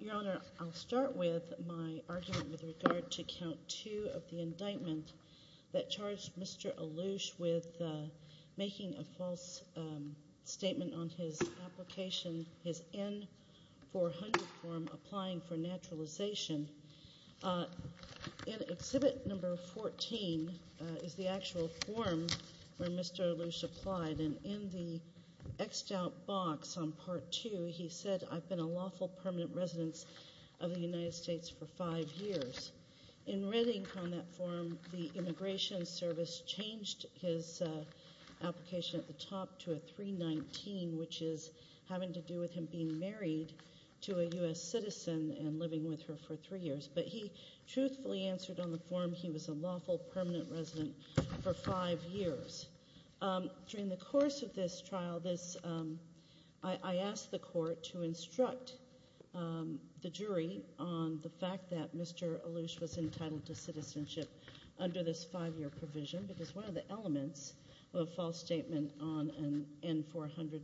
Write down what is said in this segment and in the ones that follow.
Your Honor, I'll start with my argument with regard to Count 2 of the indictment that charged Mr. Allouche with making a false statement on his application, his N-400 form applying for naturalization. In Exhibit No. 14 is the actual form where Mr. Allouche applied and in the X'd out box on Part 2 he said, I've been a lawful permanent resident of the United States for five years. In writing on that form the Immigration Service changed his application at the top to a 319, which is having to do with him being married to a U.S. citizen and living with her for three years. But he truthfully answered on the form he was a lawful permanent resident for five years. During the course of this trial, I asked the court to instruct the jury on the fact that Mr. Allouche was entitled to citizenship under this five-year provision, because one of the elements of a false statement on an N-400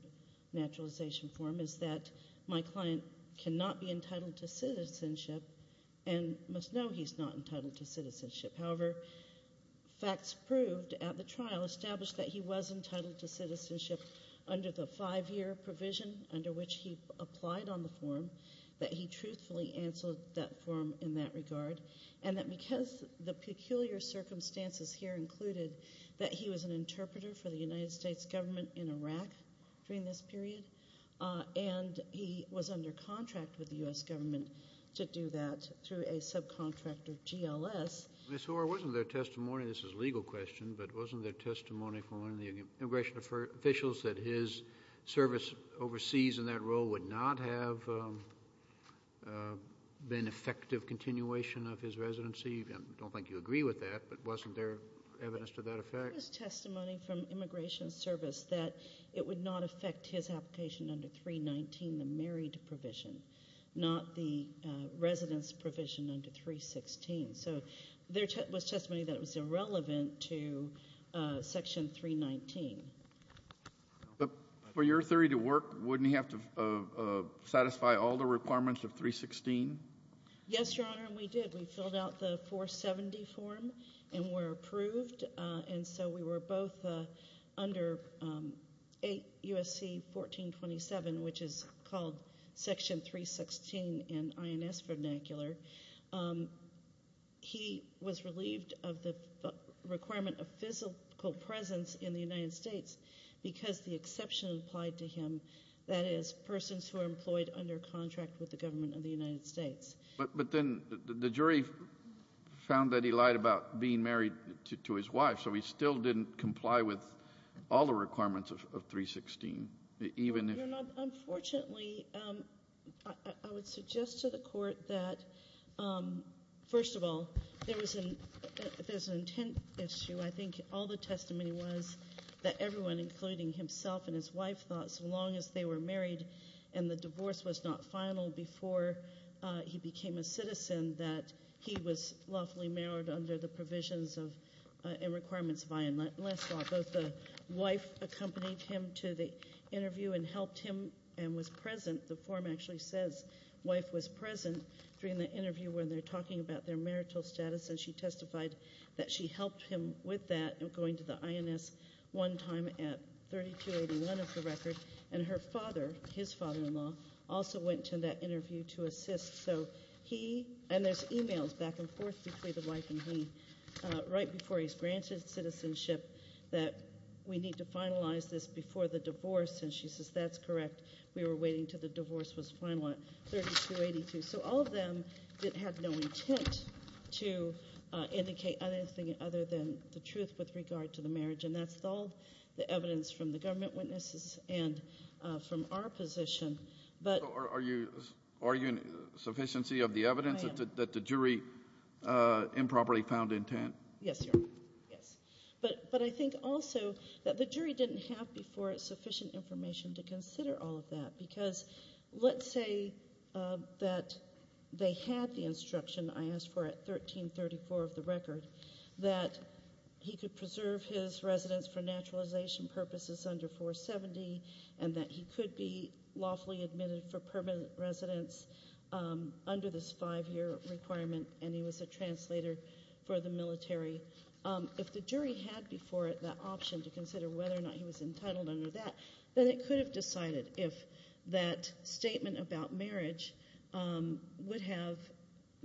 naturalization form is that my client cannot be entitled to citizenship and must know he's not entitled to citizenship. However, facts proved at the trial established that he was entitled to citizenship under the five-year provision under which he applied on the form, that he was an interpreter for the United States government in Iraq during this period, and he was under contract with the U.S. government to do that through a subcontractor, GLS. Ms. Hoare, wasn't there testimony, this is a legal question, but wasn't there testimony from one of the immigration officials that his service overseas in that role would not have been effective continuation of his residency? I don't think you agree with that, but wasn't there evidence to that effect? There was testimony from Immigration Service that it would not affect his application under 319, the married provision, not the residence provision under 316. So there was testimony that it was irrelevant to Section 319. But for your theory to work, wouldn't he have to satisfy all the requirements of 316? Yes, Your Honor, and we did. We filled out the 470 form and were approved, and so we were both under 8 U.S.C. 1427, which is called Section 316 in INS vernacular. He was relieved of the requirement of physical presence in the United States because the exception applied to him, that is, persons who are employed under contract with the government of the United States. But then the jury found that he lied about being married to his wife, so he still didn't comply with all the requirements of 316, even if... Your Honor, unfortunately, I would suggest to the Court that, first of all, there was an intent issue. I think all the testimony was that everyone, including himself and his wife, thought so long as they were married and the divorce was not final before he became a citizen, that he was lawfully married under the provisions and requirements of I.N. Leslaw. Both the wife accompanied him to the interview and helped him and was present. The form actually says wife was present during the interview when they're talking about their marital status, and she testified that she helped him with that, going to the I.N.S. one time at 3281 of the record, and her father, his father-in-law, also went to that interview to assist. So he, and there's e-mails back and forth between the wife and he, right before he's granted citizenship, that we need to the divorce was final at 3282. So all of them had no intent to indicate anything other than the truth with regard to the marriage, and that's all the evidence from the government witnesses and from our position, but... So are you arguing sufficiency of the evidence that the jury improperly found intent? Yes, Your Honor, yes. But I think also that the all of that, because let's say that they had the instruction I asked for at 1334 of the record, that he could preserve his residence for naturalization purposes under 470, and that he could be lawfully admitted for permanent residence under this five-year requirement, and he was a translator for the military. If the jury had before it that option to consider whether or not he was entitled under that, then it could have decided if that statement about marriage would have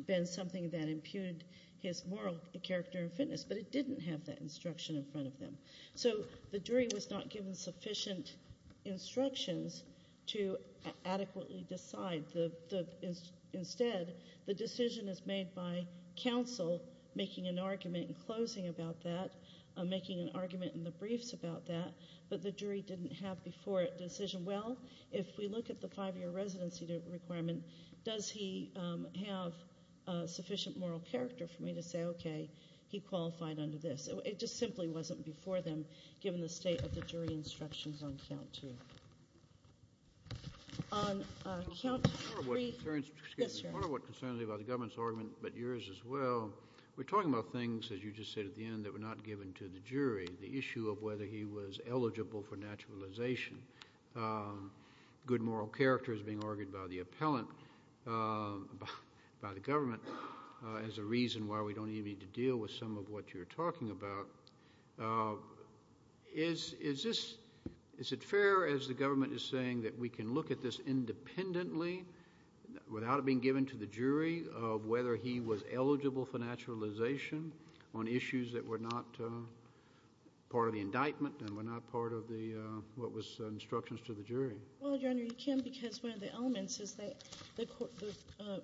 been something that imputed his moral character and fitness, but it didn't have that instruction in front of them. So the jury was not given sufficient instructions to adequately decide. Instead, the decision is made by counsel making an argument in the briefs about that, but the jury didn't have before it the decision, well, if we look at the five-year residency requirement, does he have sufficient moral character for me to say, okay, he qualified under this? It just simply wasn't before them given the state of the jury instructions on count two. On count three... Yes, Your Honor. Part of what concerns me about the government's argument, but yours as well, we're talking about things, as you just said at the end, that were not given to the jury, the issue of whether he was eligible for naturalization. Good moral character is being argued by the appellant, by the government, as a reason why we don't even need to deal with some of what you're talking about. Is it fair, as the government is saying, that we can look at this independently, without it being given to the jury, of whether he was eligible for naturalization on issues that were not part of the indictment and were not part of what was instructions to the jury? Well, Your Honor, you can because one of the elements is that the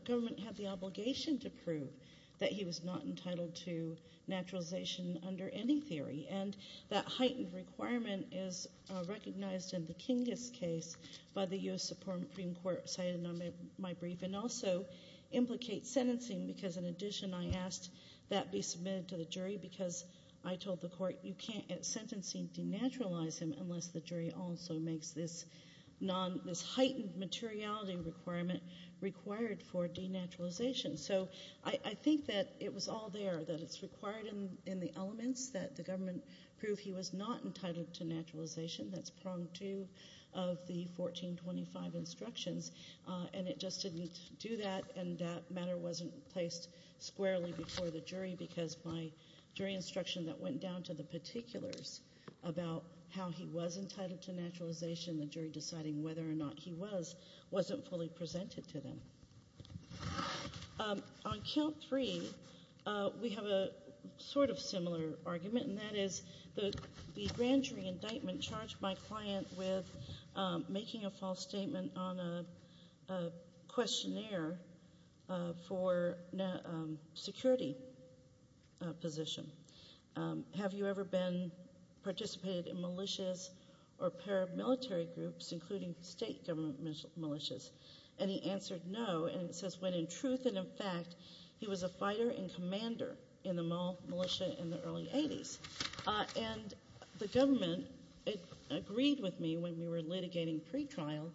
government had the obligation to prove that he was not entitled to naturalization under any theory, and that heightened requirement is recognized in the Kinggis case by the U.S. Supreme Court, cited in my brief, and also implicates sentencing because, in addition, I asked that be submitted to the jury because I told the court, you can't, at sentencing, denaturalize him unless the jury also makes this heightened materiality requirement required for denaturalization. So I think that it was all there, that it's required in the elements, that the government prove he was not entitled to naturalization, that's prong two of the 1425 instructions, and it just didn't do that, and that matter wasn't placed squarely before the jury because my jury instruction that went down to the particulars about how he was entitled to naturalization, the jury deciding whether or not he was, wasn't fully presented to them. On count three, we have a sort of similar argument, and that is the grand jury indictment charged my client with making a false statement on a questionnaire for security position. Have you ever been, participated in militias or paramilitary groups, including state government militias? And he answered no, and it says when in truth and in fact, he was a fighter and commander in the militia in the early 80s, and the government agreed with me when we were litigating pretrial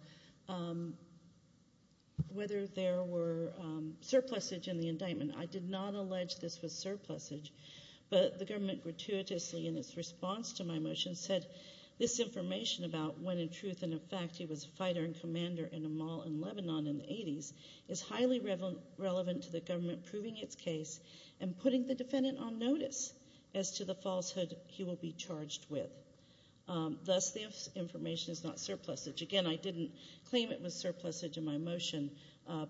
whether there were surplusage in the indictment. I did not allege this was surplusage, but the government gratuitously in its response to my motion said this information about when in truth and in fact he was a fighter and commander in a mall in Lebanon in the 80s is highly relevant to the government proving its case and putting the defendant on notice as to the falsehood he will be charged with. Thus, this information is not surplusage. Again, I didn't claim it was surplusage in my motion,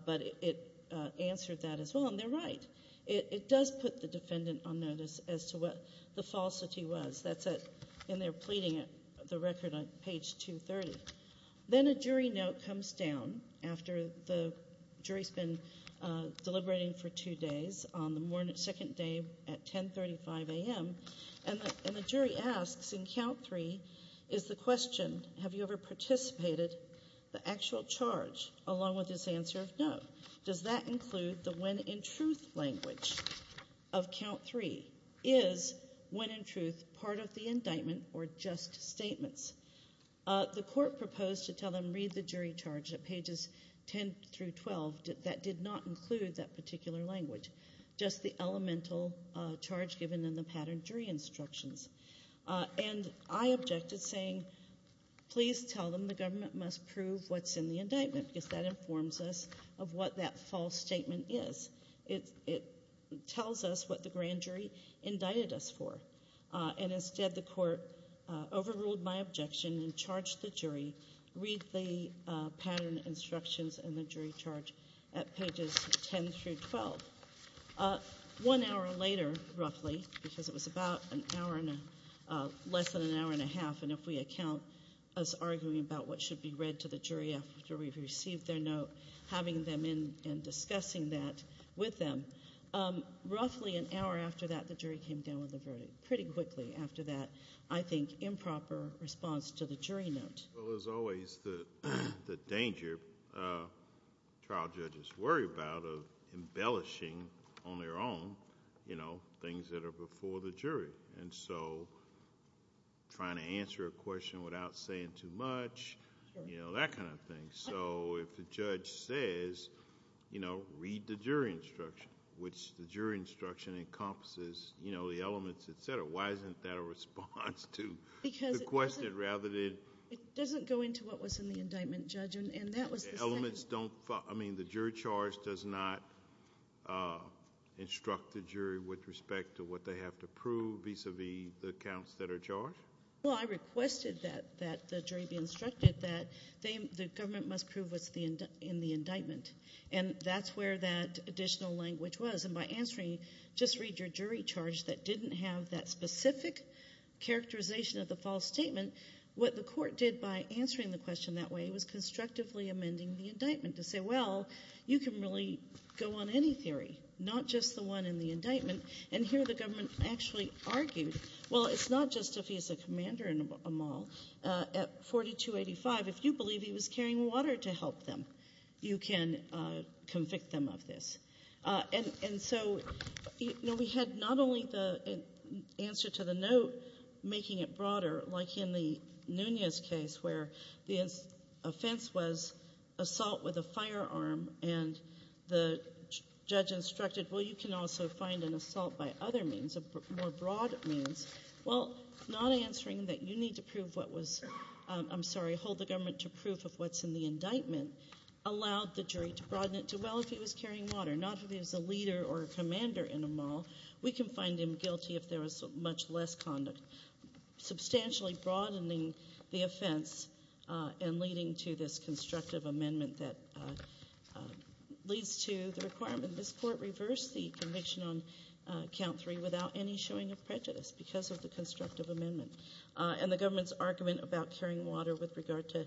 but it answered that as well, and they're right. It does put the defendant on notice as to what the falsity was, and they're deliberating for two days on the second day at 10.35 a.m., and the jury asks in count three, is the question, have you ever participated, the actual charge, along with his answer of no. Does that include the when in truth language of count three? Is when in truth part of the indictment or just statements? The court proposed to tell them read the jury charge in paragraph 12 that did not include that particular language, just the elemental charge given in the pattern jury instructions, and I objected saying please tell them the government must prove what's in the indictment because that informs us of what that false statement is. It tells us what the grand jury indicted us for, and instead the court overruled my objection and charged the jury, read the pattern instructions and the jury charge at pages 10 through 12. One hour later, roughly, because it was about an hour and a, less than an hour and a half, and if we account as arguing about what should be read to the jury after we've received their note, having them in and discussing that with them, roughly an hour and a half later. I think that's a proper response to the jury note. Well, there's always the danger trial judges worry about of embellishing on their own, you know, things that are before the jury, and so trying to answer a question without saying too much, you know, that kind of thing. So if the judge says, you know, read the jury instruction, which the jury instruction encompasses, you know, the elements, et cetera, why isn't that a response to the question rather than... It doesn't go into what was in the indictment, Judge, and that was the second... The elements don't... I mean, the jury charge does not instruct the jury with respect to what they have to prove vis-à-vis the accounts that are charged? Well, I requested that the jury be instructed that the government must prove what's in the indictment, and that's where that additional language was, and by answering, just read your jury charge that didn't have that specific characterization of the false statement, what the court did by answering the question that way was constructively amending the indictment to say, well, you can really go on any theory, not just the one in the indictment, and here the government actually argued, well, it's not just if he's a commander in a mall at 4285, if you believe he was carrying water to help them, you can convict them of this. And so, you know, we had not only the answer to the note making it broader, like in the Nunez case where the offense was assault with a firearm, and the judge instructed, well, you can also find an assault by other means, a more broad means. Well, not answering that you need to prove what was... I'm sorry, hold the government to proof of what's in the indictment allowed the jury to broaden it to, well, if he was carrying water, not if he was a leader or a commander in a mall, we can find him guilty if there was much less conduct. Substantially broadening the offense and leading to this constructive amendment that leads to the requirement this court reversed the conviction on count three without any showing of prejudice because of the constructive amendment. And the government's argument about carrying water with regard to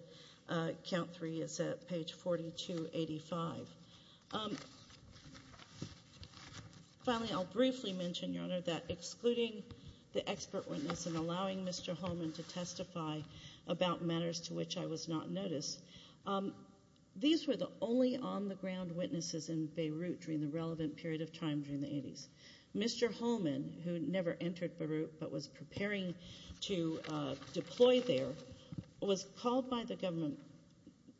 count three is at page 4285. Finally, I'll briefly mention, Your Honor, that excluding the expert witness and allowing Mr. Holman to testify about matters to which I was not noticed, these were the only on-the-ground witnesses in Beirut during the relevant period of time during the 80s. Mr. Holman, who never entered Beirut but was preparing to deploy there, was called by the government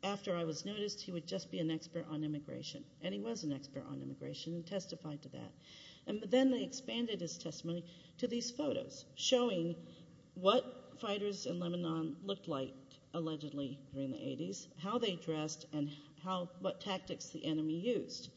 after I was noticed he would just be an expert on immigration, and he was an expert on immigration and testified to that. And then they expanded his testimony to these photos showing what fighters in Lebanon looked like, allegedly, during the 80s, how they dressed, and what tactics the enemy used.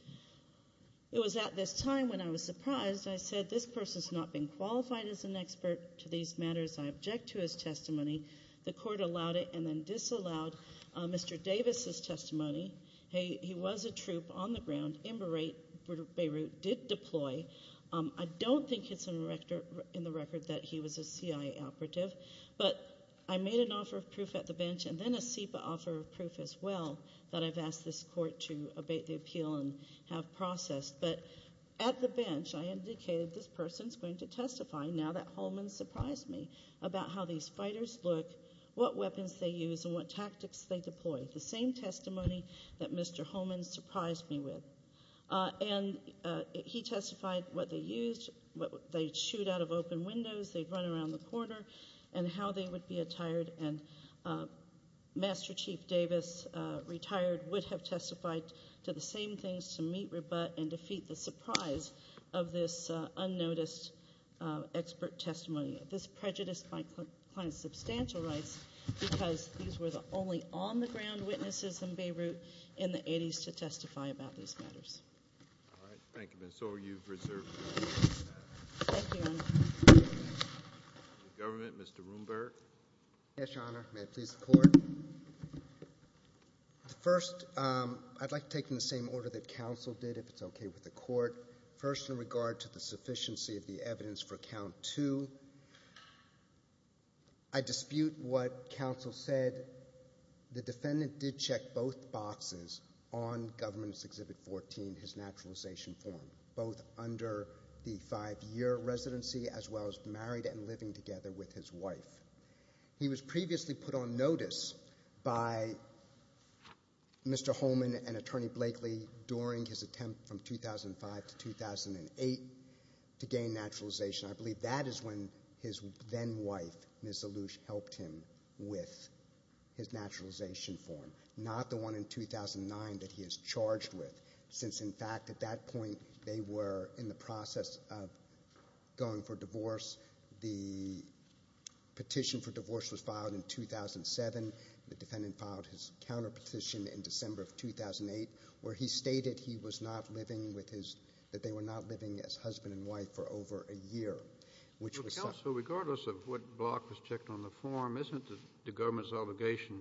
It was at this time when I was surprised. I said, This person has not been qualified as an expert to these matters. I object to his testimony. The court allowed it and then disallowed Mr. Davis' testimony. He was a troop on the ground in Beirut, did deploy. I don't think it's in the record that he was a CIA operative. But I made an offer of proof at the bench and then a SEPA offer of proof as well that I've asked this court to abate the appeal and have processed. But at the bench, I indicated this person's going to testify now that Holman surprised me about how these fighters look, what weapons they use, and what tactics they deploy. The same testimony that Mr. Holman surprised me with. And he testified what they used, what they'd shoot out of open windows, they'd run around the corner, and how they would be attired. And Master Chief Davis, retired, would have testified to the same things to meet rebut and defeat the surprise of this unnoticed expert testimony. This prejudiced my client's substantial rights because these were the only on-the-ground witnesses in Beirut in the 80s to testify about these matters. All right. Thank you, ma'am. So are you reserved? Thank you, Your Honor. The government. Mr. Rundberg. Yes, Your Honor. May it please the court. First, I'd like to take in the same order that counsel did, if it's okay with the court. First, in regard to the sufficiency of the evidence for count two, I dispute what counsel said. The defendant did check both boxes on Government Exhibit 14, his naturalization form, both under the five-year residency as well as married and living together with his wife. He was previously put on notice by Mr. Holman and Attorney Blakely during his attempt from 2005 to 2008 to gain naturalization. I believe that is when his then-wife, Ms. Alouche, helped him with his naturalization form, not the one in 2009 that he is charged with, since, in fact, at that point, they were in the process of going for divorce. The petition for divorce was filed in 2007. The defendant filed his counterpetition in December of 2008, where he stated he was not living with his — that they were not living as husband and wife for over a year, which was — Well, counsel, regardless of what block was checked on the form, isn't it the Government's obligation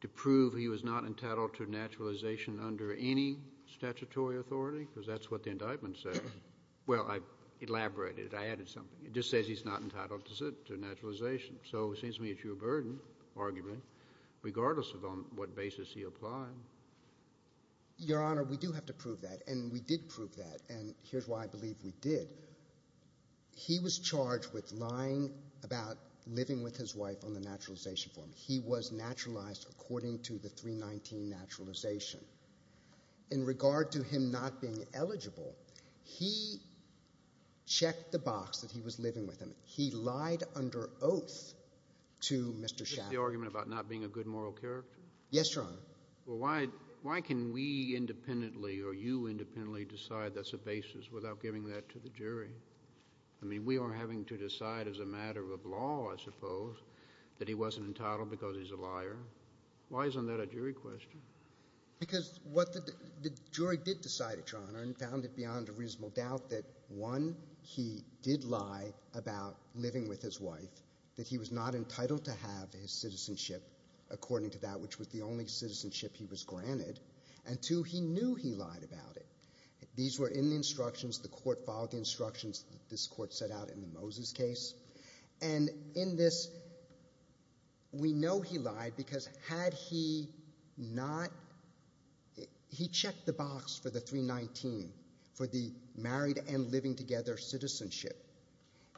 to prove he was not entitled to naturalization under any statutory authority? Because that's what the indictment said. Well, I elaborated. I added something. It just says he's not entitled to naturalization. So it seems to me it's your burden, argument, regardless of on what basis he applied. Your Honor, we do have to prove that. And we did prove that. And here's why I believe we did. He was charged with lying about living with his wife on the naturalization form. He was naturalized according to the 319 naturalization. In regard to him not being eligible, he checked the box that he was living with him. He lied under oath to Mr. Schaffer. Is this the argument about not being a good moral character? Yes, Your Honor. Well, why can we independently or you independently decide that's the basis without giving that to the jury? I mean, we are having to decide as a matter of law, I suppose, that he wasn't entitled because he's a liar. Why isn't that a jury question? Because what the jury did decide, Your Honor, and found it beyond a reasonable doubt that, one, he did lie about living with his wife, that he was not entitled to have his citizenship according to that which was the only citizenship he was granted, and, two, he knew he lied about it. These were in the instructions. The court followed the instructions that this court set out in the Moses case. And in this, we know he lied because had he not, he checked the box for the 319 for the married and living together citizenship.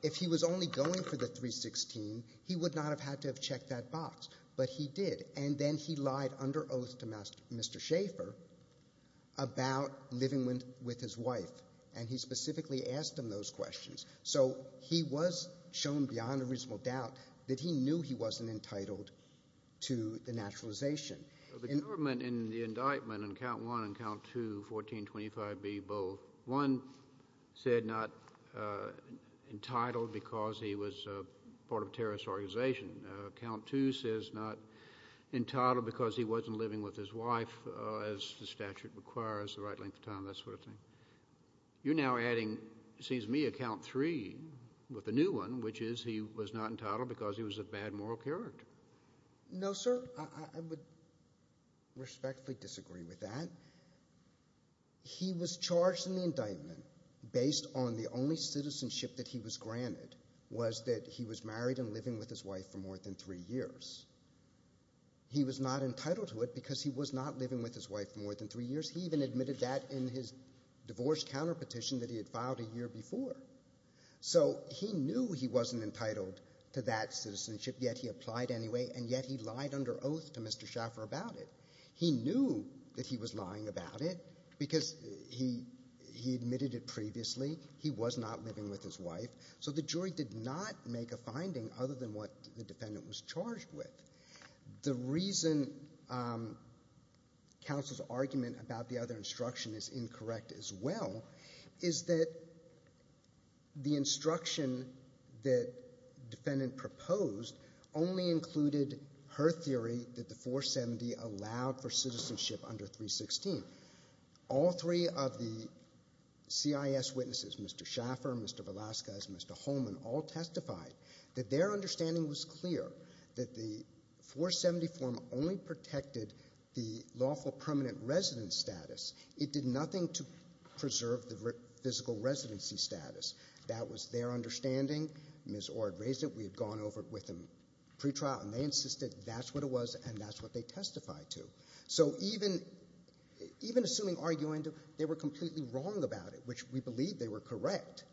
If he was only going for the 316, he would not have had to have checked that box. But he did, and then he lied under oath to Mr. Schaefer about living with his wife, and he specifically asked him those questions. So he was shown beyond a reasonable doubt that he knew he wasn't entitled to the naturalization. The government in the indictment in Count I and Count II, 1425B, both, one, said not entitled because he was part of a terrorist organization. Count II says not entitled because he wasn't living with his wife, as the statute requires, the right length of time, that sort of thing. You're now adding, it seems to me, Count III with the new one, which is he was not entitled because he was a bad moral character. No, sir. I would respectfully disagree with that. He was charged in the indictment based on the only citizenship that he was granted was that he was married and living with his wife for more than three years. He was not entitled to it because he was not living with his wife for more than three years. He even admitted that in his divorce counterpetition that he had filed a year before. So he knew he wasn't entitled to that citizenship, yet he applied anyway, and yet he lied under oath to Mr. Schaefer about it. He knew that he was lying about it because he admitted it previously. He was not living with his wife. So the jury did not make a finding other than what the defendant was charged with. The reason counsel's argument about the other instruction is incorrect as well is that the instruction that defendant proposed only included her theory that the 470 allowed for citizenship under 316. All three of the CIS witnesses, Mr. Schaefer, Mr. Velasquez, Mr. Holman, all testified that their understanding was clear that the 470 form only protected the lawful permanent residence status. It did nothing to preserve the physical residency status. That was their understanding. Ms. Orr had raised it. We had gone over it with them pretrial, and they insisted that's what it was and that's what they testified to. So even assuming argument, they were completely wrong about it, which we believe they were correct.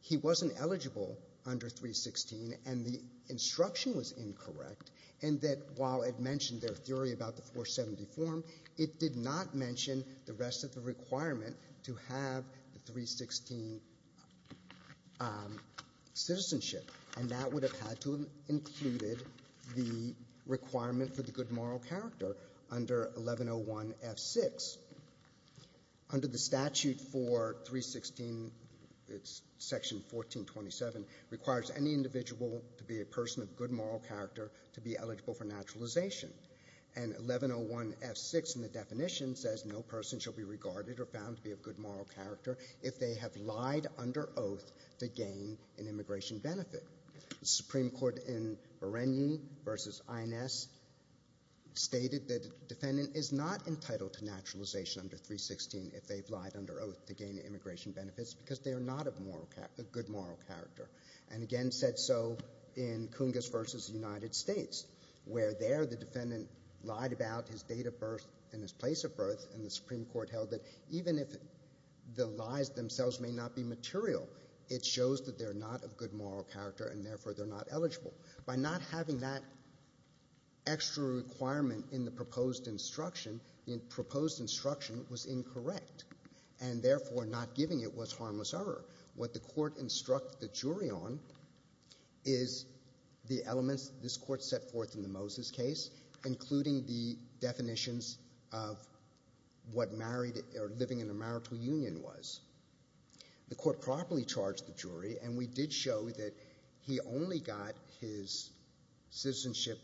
He wasn't eligible under 316, and the instruction was incorrect, and that while it mentioned their theory about the 470 form, it did not mention the rest of the requirement to have the 316 citizenship, and that would have had to have included the requirement for the good moral character under 1101F6. Under the statute for 316, it's section 1427, requires any individual to be a person of good moral character to be eligible for naturalization, and 1101F6 in the definition says no person shall be regarded or found to be of good moral character if they have lied under oath to gain an immigration benefit. The Supreme Court in Bereni versus INS stated that a defendant is not entitled to naturalization under 316 if they've lied under oath to gain immigration benefits because they are not of good moral character, and again said so in Cungas versus the United States, where there the defendant lied about his date of birth and his place of birth, and the Supreme Court held that even if the lies themselves may not be material, it shows that they're not of good moral character and therefore they're not eligible. By not having that extra requirement in the proposed instruction, the proposed instruction was incorrect and therefore not giving it was harmless error. What the court instructed the jury on is the elements this court set forth in the Moses case, including the definitions of what married or living in a marital union was. The court properly charged the jury, and we did show that he only got his citizenship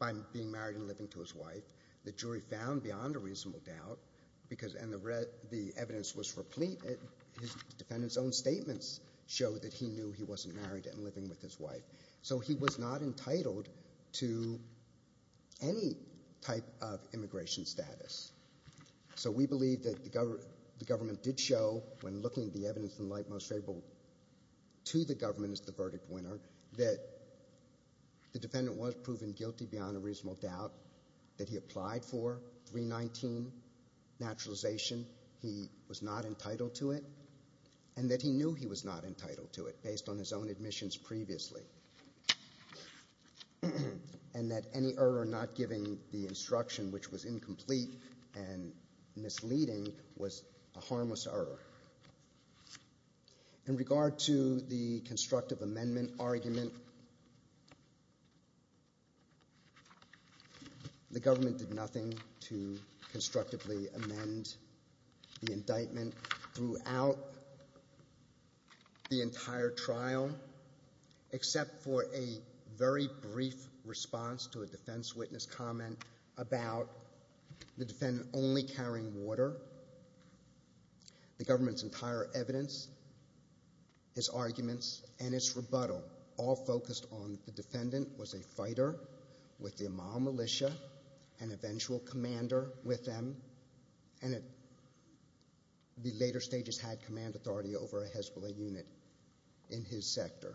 by being married and living to his wife. The jury found beyond a reasonable doubt, and the evidence was replete. His defendant's own statements showed that he knew he wasn't married and living with his wife, so he was not entitled to any type of immigration status. So we believe that the government did show, when looking at the evidence in light most favorable to the government as the verdict winner, that the defendant was proven guilty beyond a reasonable doubt, that he applied for 319 naturalization, he was not entitled to it, and that he knew he was not entitled to it based on his own admissions previously, and that any error not giving the instruction, which was incomplete and misleading, was a harmless error. In regard to the constructive amendment argument, the government did nothing to constructively amend the indictment throughout the entire trial except for a very brief response to a defense witness comment about the defendant only carrying water. The government's entire evidence, its arguments, and its rebuttal, all focused on the defendant was a fighter with the Amal militia, an eventual commander with them, and at the later stages had command authority over a Hezbollah unit in his sector.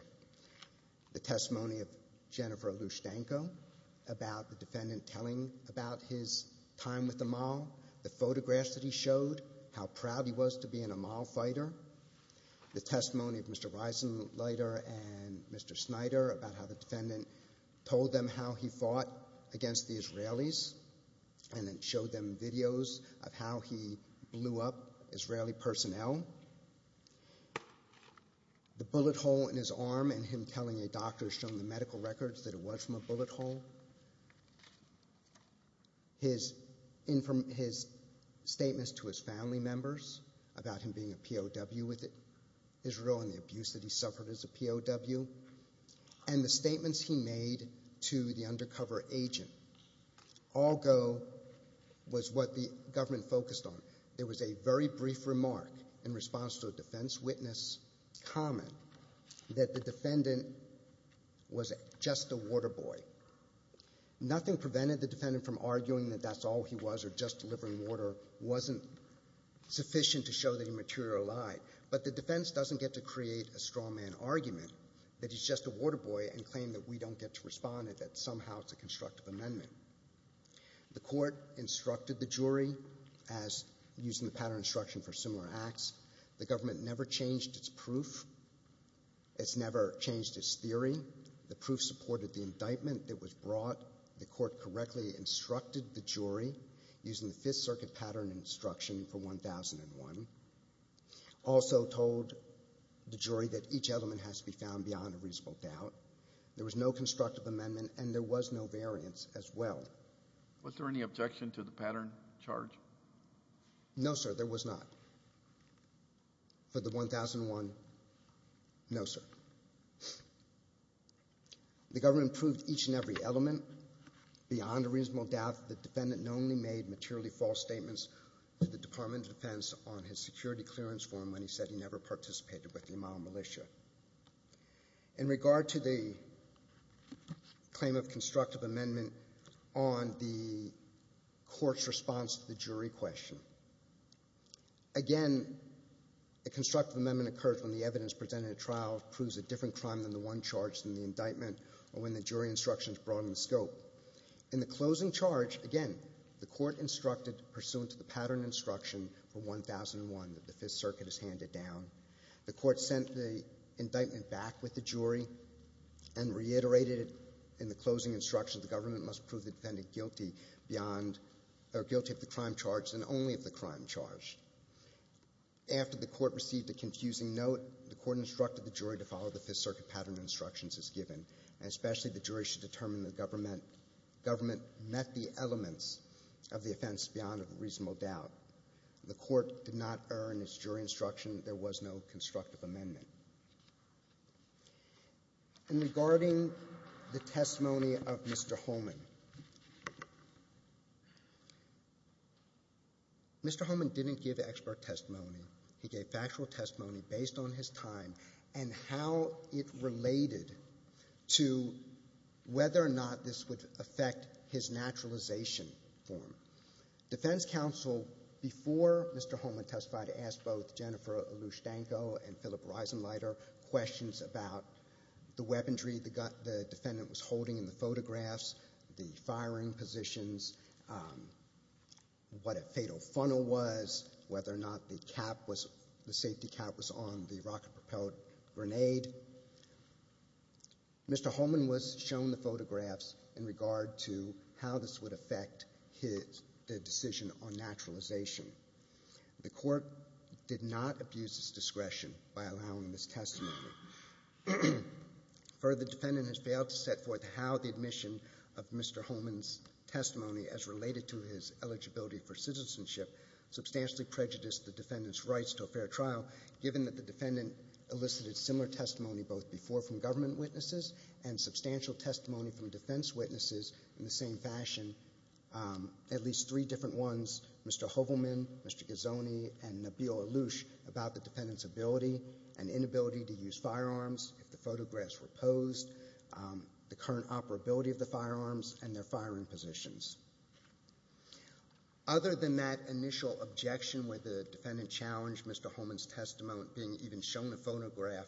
The testimony of Jennifer Lushtanko about the defendant telling about his time with the Amal, the photographs that he showed, how proud he was to be an Amal fighter, the testimony of Mr. Reisenleiter and Mr. Snyder about how the defendant told them how he fought against the Israelis and then showed them videos of how he blew up Israeli personnel, the bullet hole in his arm and him telling a doctor showing the medical records that it was from a bullet hole, his statements to his family members about him being a POW with Israel and the abuse that he suffered as a POW, and the statements he made to the undercover agent. All go was what the government focused on. There was a very brief remark in response to a defense witness comment that the defendant was just a water boy. Nothing prevented the defendant from arguing that that's all he was or just delivering water wasn't sufficient to show that he materialized. But the defense doesn't get to create a straw man argument that he's just a water boy and claim that we don't get to respond and that somehow it's a constructive amendment. The court instructed the jury as using the pattern instruction for similar acts. The government never changed its proof. It's never changed its theory. The proof supported the indictment that was brought. The court correctly instructed the jury using the Fifth Circuit pattern instruction for 1001. Also told the jury that each element has to be found beyond a reasonable doubt. There was no constructive amendment and there was no variance as well. Was there any objection to the pattern charge? No, sir, there was not. For the 1001, no, sir. The government proved each and every element beyond a reasonable doubt that the defendant only made materially false statements to the Department of Defense on his security clearance form when he said he never participated with the Amal militia. In regard to the claim of constructive amendment on the court's response to the jury question, again, a constructive amendment occurs when the evidence presented in a trial proves a different crime than the one charged in the indictment or when the jury instructions broaden the scope. In the closing charge, again, the court instructed, pursuant to the pattern instruction for 1001 that the Fifth Circuit is handed down. The court sent the indictment back with the jury and reiterated it in the closing instruction that the government must prove the defendant guilty beyond or guilty of the crime charged and only of the crime charged. After the court received a confusing note, the court instructed the jury to follow the Fifth Circuit pattern instructions as given, and especially the jury should determine the government met the elements of the offense beyond a reasonable doubt. The court did not earn its jury instruction. There was no constructive amendment. And regarding the testimony of Mr. Holman, Mr. Holman didn't give expert testimony. He gave factual testimony based on his time and how it related to whether or not this would affect his naturalization form. Defense counsel, before Mr. Holman testified, asked both Jennifer Lushtanko and Philip Reisenleiter questions about the weaponry the defendant was holding in the photographs, the firing positions, what a fatal funnel was, whether or not the safety cap was on the rocket-propelled grenade. Mr. Holman was shown the photographs in regard to how this would affect his decision on naturalization. The court did not abuse its discretion by allowing this testimony. Further, the defendant has failed to set forth how the admission of Mr. Holman's testimony as related to his eligibility for citizenship substantially prejudiced the defendant's rights to a fair trial, given that the defendant elicited similar testimony both before from government witnesses and substantial testimony from defense witnesses in the same fashion. At least three different ones, Mr. Holman, Mr. Gazzone, and Nabil Allouche, about the defendant's ability and inability to use firearms if the photographs were posed, the current operability of the firearms, and their firing positions. Other than that initial objection with the defendant challenged Mr. Holman's testimony, being even shown the photograph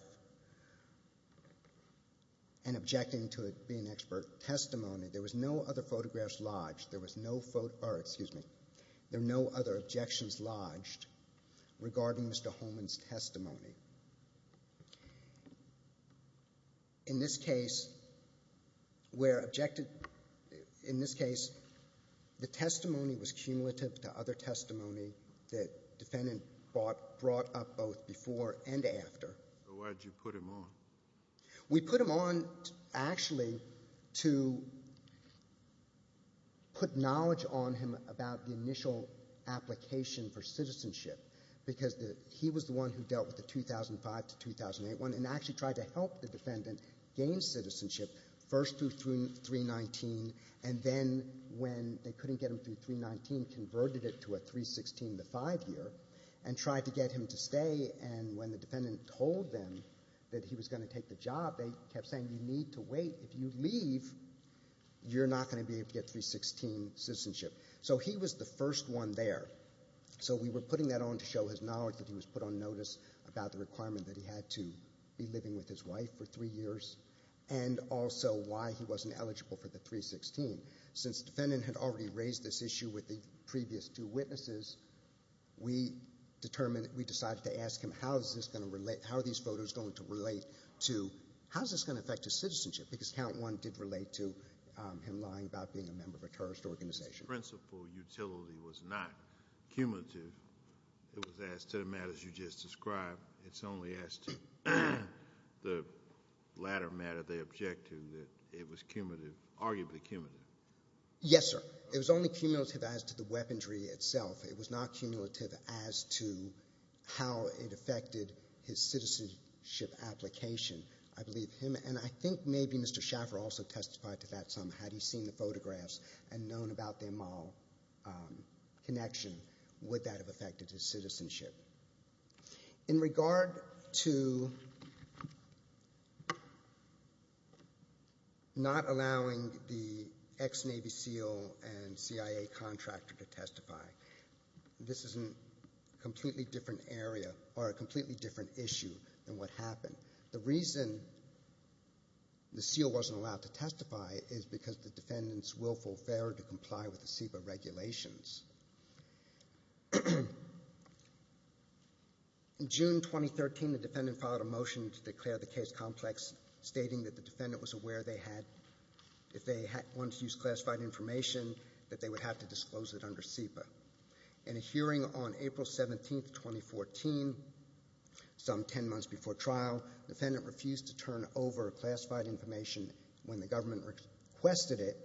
and objecting to it being expert testimony, there was no other photographs lodged. There were no other objections lodged regarding Mr. Holman's testimony. In this case, the testimony was cumulative to other testimony that the defendant brought up both before and after. Why did you put him on? We put him on actually to put knowledge on him about the initial application for citizenship, because he was the one who dealt with the 2005 to 2008 one and actually tried to help the defendant gain citizenship first through 319, and then when they couldn't get him through 319, converted it to a 316 to 5 year, and tried to get him to stay, and when the defendant told them that he was going to take the job, they kept saying you need to wait. If you leave, you're not going to be able to get 316 citizenship. So he was the first one there. So we were putting that on to show his knowledge that he was put on notice about the requirement that he had to be living with his wife for three years and also why he wasn't eligible for the 316. Since the defendant had already raised this issue with the previous two witnesses, we decided to ask him how are these photos going to relate to how is this going to affect his citizenship, because count one did relate to him lying about being a member of a terrorist organization. The principal utility was not cumulative. It was as to the matters you just described. It's only as to the latter matter, the objective, that it was cumulative, arguably cumulative. Yes, sir. It was only cumulative as to the weaponry itself. It was not cumulative as to how it affected his citizenship application. I believe him and I think maybe Mr. Schaffer also testified to that somehow. Had he seen the photographs and known about their moral connection, would that have affected his citizenship? In regard to not allowing the ex-Navy SEAL and CIA contractor to testify, this is a completely different issue than what happened. The reason the SEAL wasn't allowed to testify is because the defendants willful failure to comply with the SEPA regulations. In June 2013, the defendant filed a motion to declare the case complex, stating that the defendant was aware they had, if they wanted to use classified information, that they would have to disclose it under SEPA. In a hearing on April 17, 2014, some 10 months before trial, the defendant refused to turn over classified information when the government requested it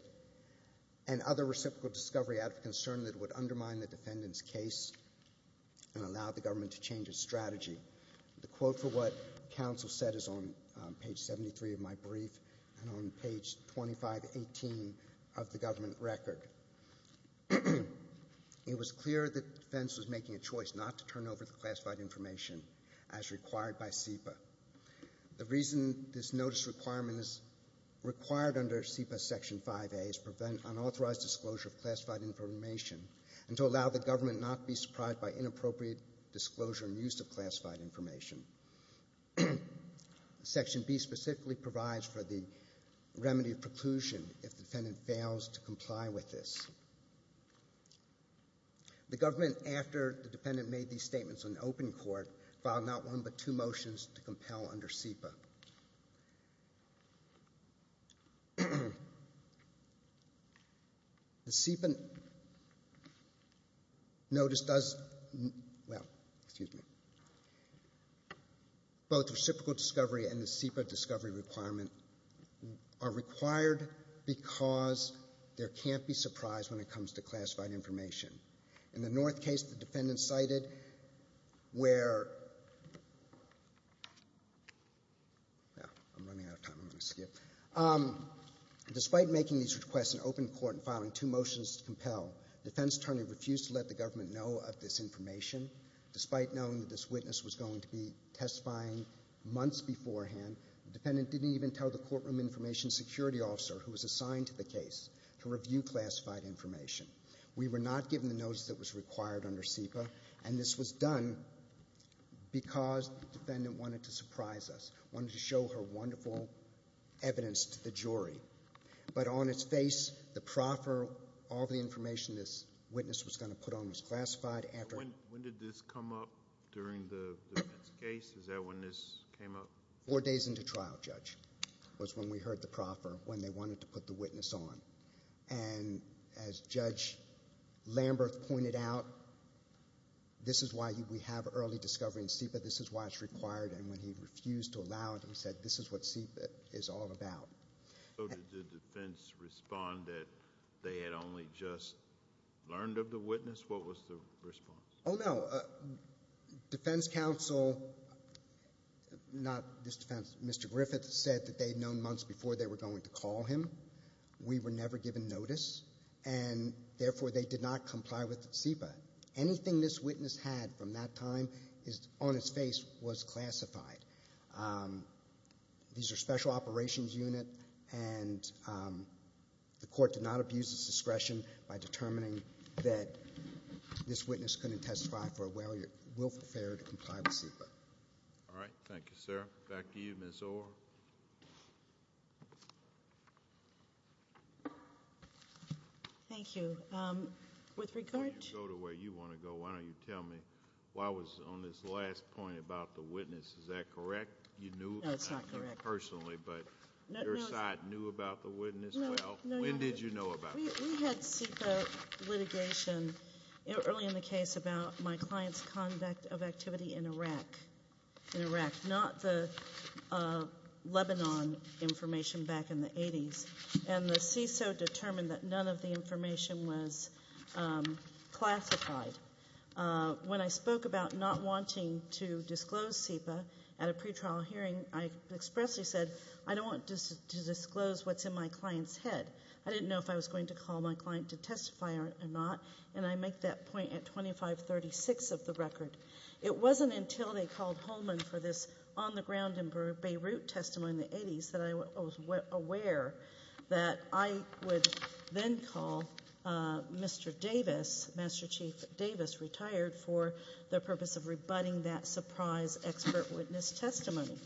and other reciprocal discovery out of concern that it would undermine the defendant's case and allow the government to change its strategy. The quote for what counsel said is on page 73 of my brief and on page 2518 of the government record. It was clear that the defense was making a choice not to turn over the classified information as required by SEPA. The reason this notice requirement is required under SEPA Section 5A is to prevent unauthorized disclosure of classified information and to allow the government not to be surprised by inappropriate disclosure and use of classified information. Section B specifically provides for the remedy of preclusion if the defendant fails to comply with this. The government, after the defendant made these statements in open court, filed not one but two motions to compel under SEPA. The SEPA notice does, well, excuse me, both reciprocal discovery and the SEPA discovery requirement are required because there can't be surprise when it comes to classified information. In the North case, the defendant cited where, I'm running out of time, I'm going to skip. Despite making these requests in open court and filing two motions to compel, the defense attorney refused to let the government know of this information. Despite knowing that this witness was going to be testifying months beforehand, the defendant didn't even tell the courtroom information security officer who was assigned to the case to review classified information. We were not given the notice that was required under SEPA, and this was done because the defendant wanted to surprise us, wanted to show her wonderful evidence to the jury. But on its face, the proffer, all the information this witness was going to put on was classified. When did this come up during the defense case? Is that when this came up? Four days into trial, Judge, was when we heard the proffer, when they wanted to put the witness on. As Judge Lamberth pointed out, this is why we have early discovery in SEPA. This is why it's required, and when he refused to allow it, he said this is what SEPA is all about. Did the defense respond that they had only just learned of the witness? What was the response? Oh, no. Defense counsel, not this defense, Mr. Griffith, said that they had known months before they were going to call him. We were never given notice, and therefore they did not comply with SEPA. Anything this witness had from that time on its face was classified. These are special operations unit, and the court did not abuse its discretion by determining that this witness couldn't testify for a willful failure to comply with SEPA. All right. Thank you, sir. Back to you, Ms. Orr. Thank you. With regard to... Go to where you want to go. Why don't you tell me why I was on this last point about the witness. Is that correct? No, it's not correct. I don't know about you personally, but your side knew about the witness? Well, when did you know about this? We had SEPA litigation early in the case about my client's conduct of activity in Iraq, not the Lebanon information back in the 80s. And the CISO determined that none of the information was classified. When I spoke about not wanting to disclose SEPA at a pretrial hearing, I expressly said I don't want to disclose what's in my client's head. I didn't know if I was going to call my client to testify or not, and I make that point at 2536 of the record. It wasn't until they called Holman for this on-the-ground in Beirut testimony in the 80s that I was aware that I would then call Mr. Davis, Master Chief Davis, retired for the purpose of rebutting that surprise expert witness testimony.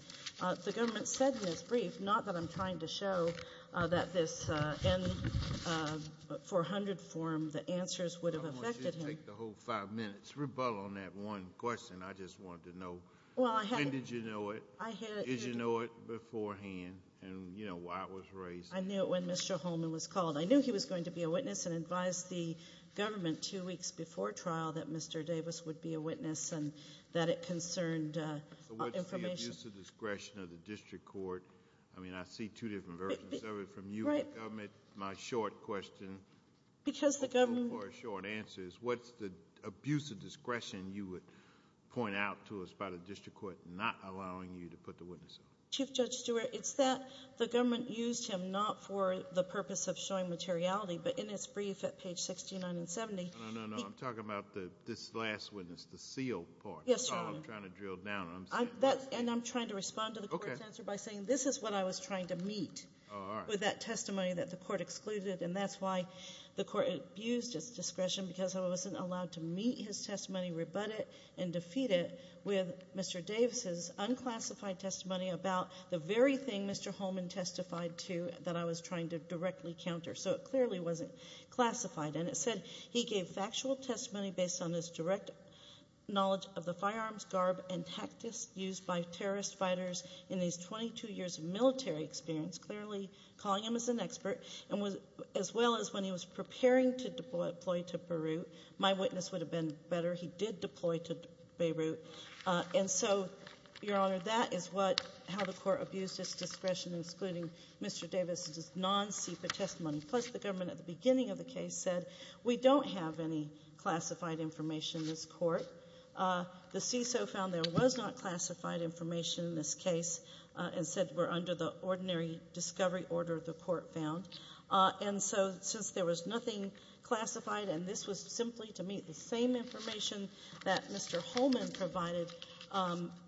The government said in its brief, not that I'm trying to show, that this N-400 form, the answers would have affected him. I want you to take the whole five minutes. Rebuttal on that one question. I just wanted to know when did you know it, did you know it beforehand, and, you know, why it was raised. I knew it when Mr. Holman was called. I knew he was going to be a witness and advised the government two weeks before trial that Mr. Davis would be a witness and that it concerned information. So what's the abuse of discretion of the district court? I mean, I see two different versions of it from you and the government. My short question, for a short answer, is what's the abuse of discretion you would point out to us by the district court not allowing you to put the witness on? Chief Judge Stewart, it's that the government used him not for the purpose of showing materiality, but in its brief at page 69 and 70. No, no, no. I'm talking about this last witness, the sealed part. Yes, Your Honor. That's all I'm trying to drill down. And I'm trying to respond to the court's answer by saying this is what I was trying to meet with that testimony that the court excluded, and that's why the court abused its discretion because I wasn't allowed to meet his testimony, rebut it, and defeat it with Mr. Davis's unclassified testimony about the very thing Mr. Holman testified to that I was trying to directly counter. So it clearly wasn't classified. And it said he gave factual testimony based on his direct knowledge of the firearms, garb, and tactics used by terrorist fighters in his 22 years of military experience, clearly calling him as an expert, as well as when he was preparing to deploy to Beirut. My witness would have been better. He did deploy to Beirut. And so, Your Honor, that is how the court abused its discretion, excluding Mr. Davis's non-CEPA testimony. Plus the government at the beginning of the case said we don't have any classified information in this court. The CISO found there was not classified information in this case and said we're under the ordinary discovery order the court found. And so since there was nothing classified and this was simply to meet the same information that Mr. Holman provided,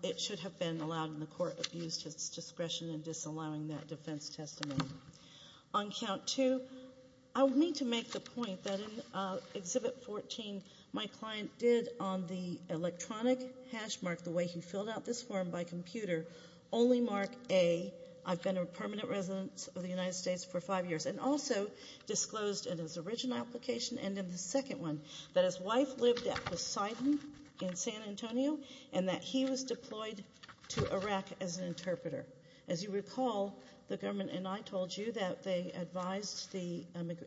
it should have been allowed, and the court abused its discretion in disallowing that defense testimony. On count two, I would mean to make the point that in Exhibit 14, my client did on the electronic hash mark, the way he filled out this form by computer, only mark A, I've been a permanent resident of the United States for five years, and also disclosed in his original application and in the second one that his wife lived at Poseidon in San Antonio and that he was deployed to Iraq as an interpreter. As you recall, the government and I told you that they advised the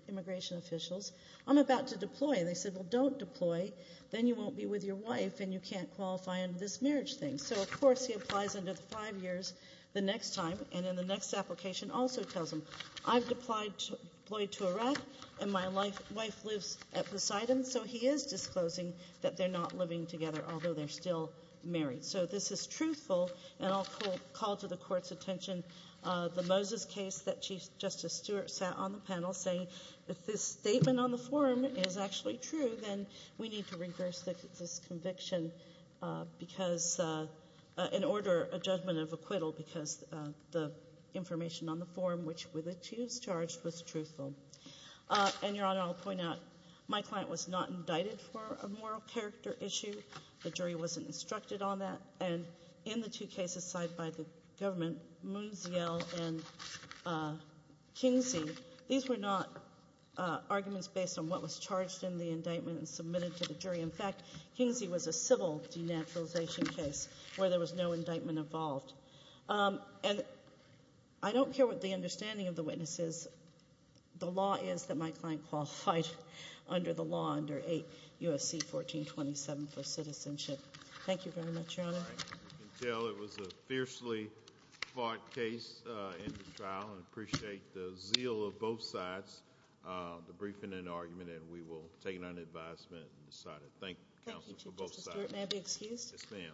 immigration officials, I'm about to deploy, and they said, well, don't deploy. Then you won't be with your wife and you can't qualify under this marriage thing. So, of course, he applies under the five years the next time and in the next application also tells them I've deployed to Iraq and my wife lives at Poseidon, so he is disclosing that they're not living together, although they're still married. So this is truthful, and I'll call to the Court's attention the Moses case that Chief Justice Stewart sat on the panel, saying if this statement on the form is actually true, then we need to reverse this conviction and order a judgment of acquittal because the information on the form, which were the two charged, was truthful. And, Your Honor, I'll point out my client was not indicted for a moral character issue. The jury wasn't instructed on that. And in the two cases cited by the government, Munziel and Kingsie, these were not arguments based on what was charged in the indictment and submitted to the jury. In fact, Kingsie was a civil denaturalization case where there was no indictment involved. And I don't care what the understanding of the witness is. The law is that my client qualified under the law under 8 U.S.C. 1427 for citizenship. Thank you very much, Your Honor. All right. We can tell it was a fiercely fought case in the trial and appreciate the zeal of both sides, the briefing and argument, and we will take it under advisement and decide it. Thank you, counsel, for both sides. May I be excused? Yes, ma'am.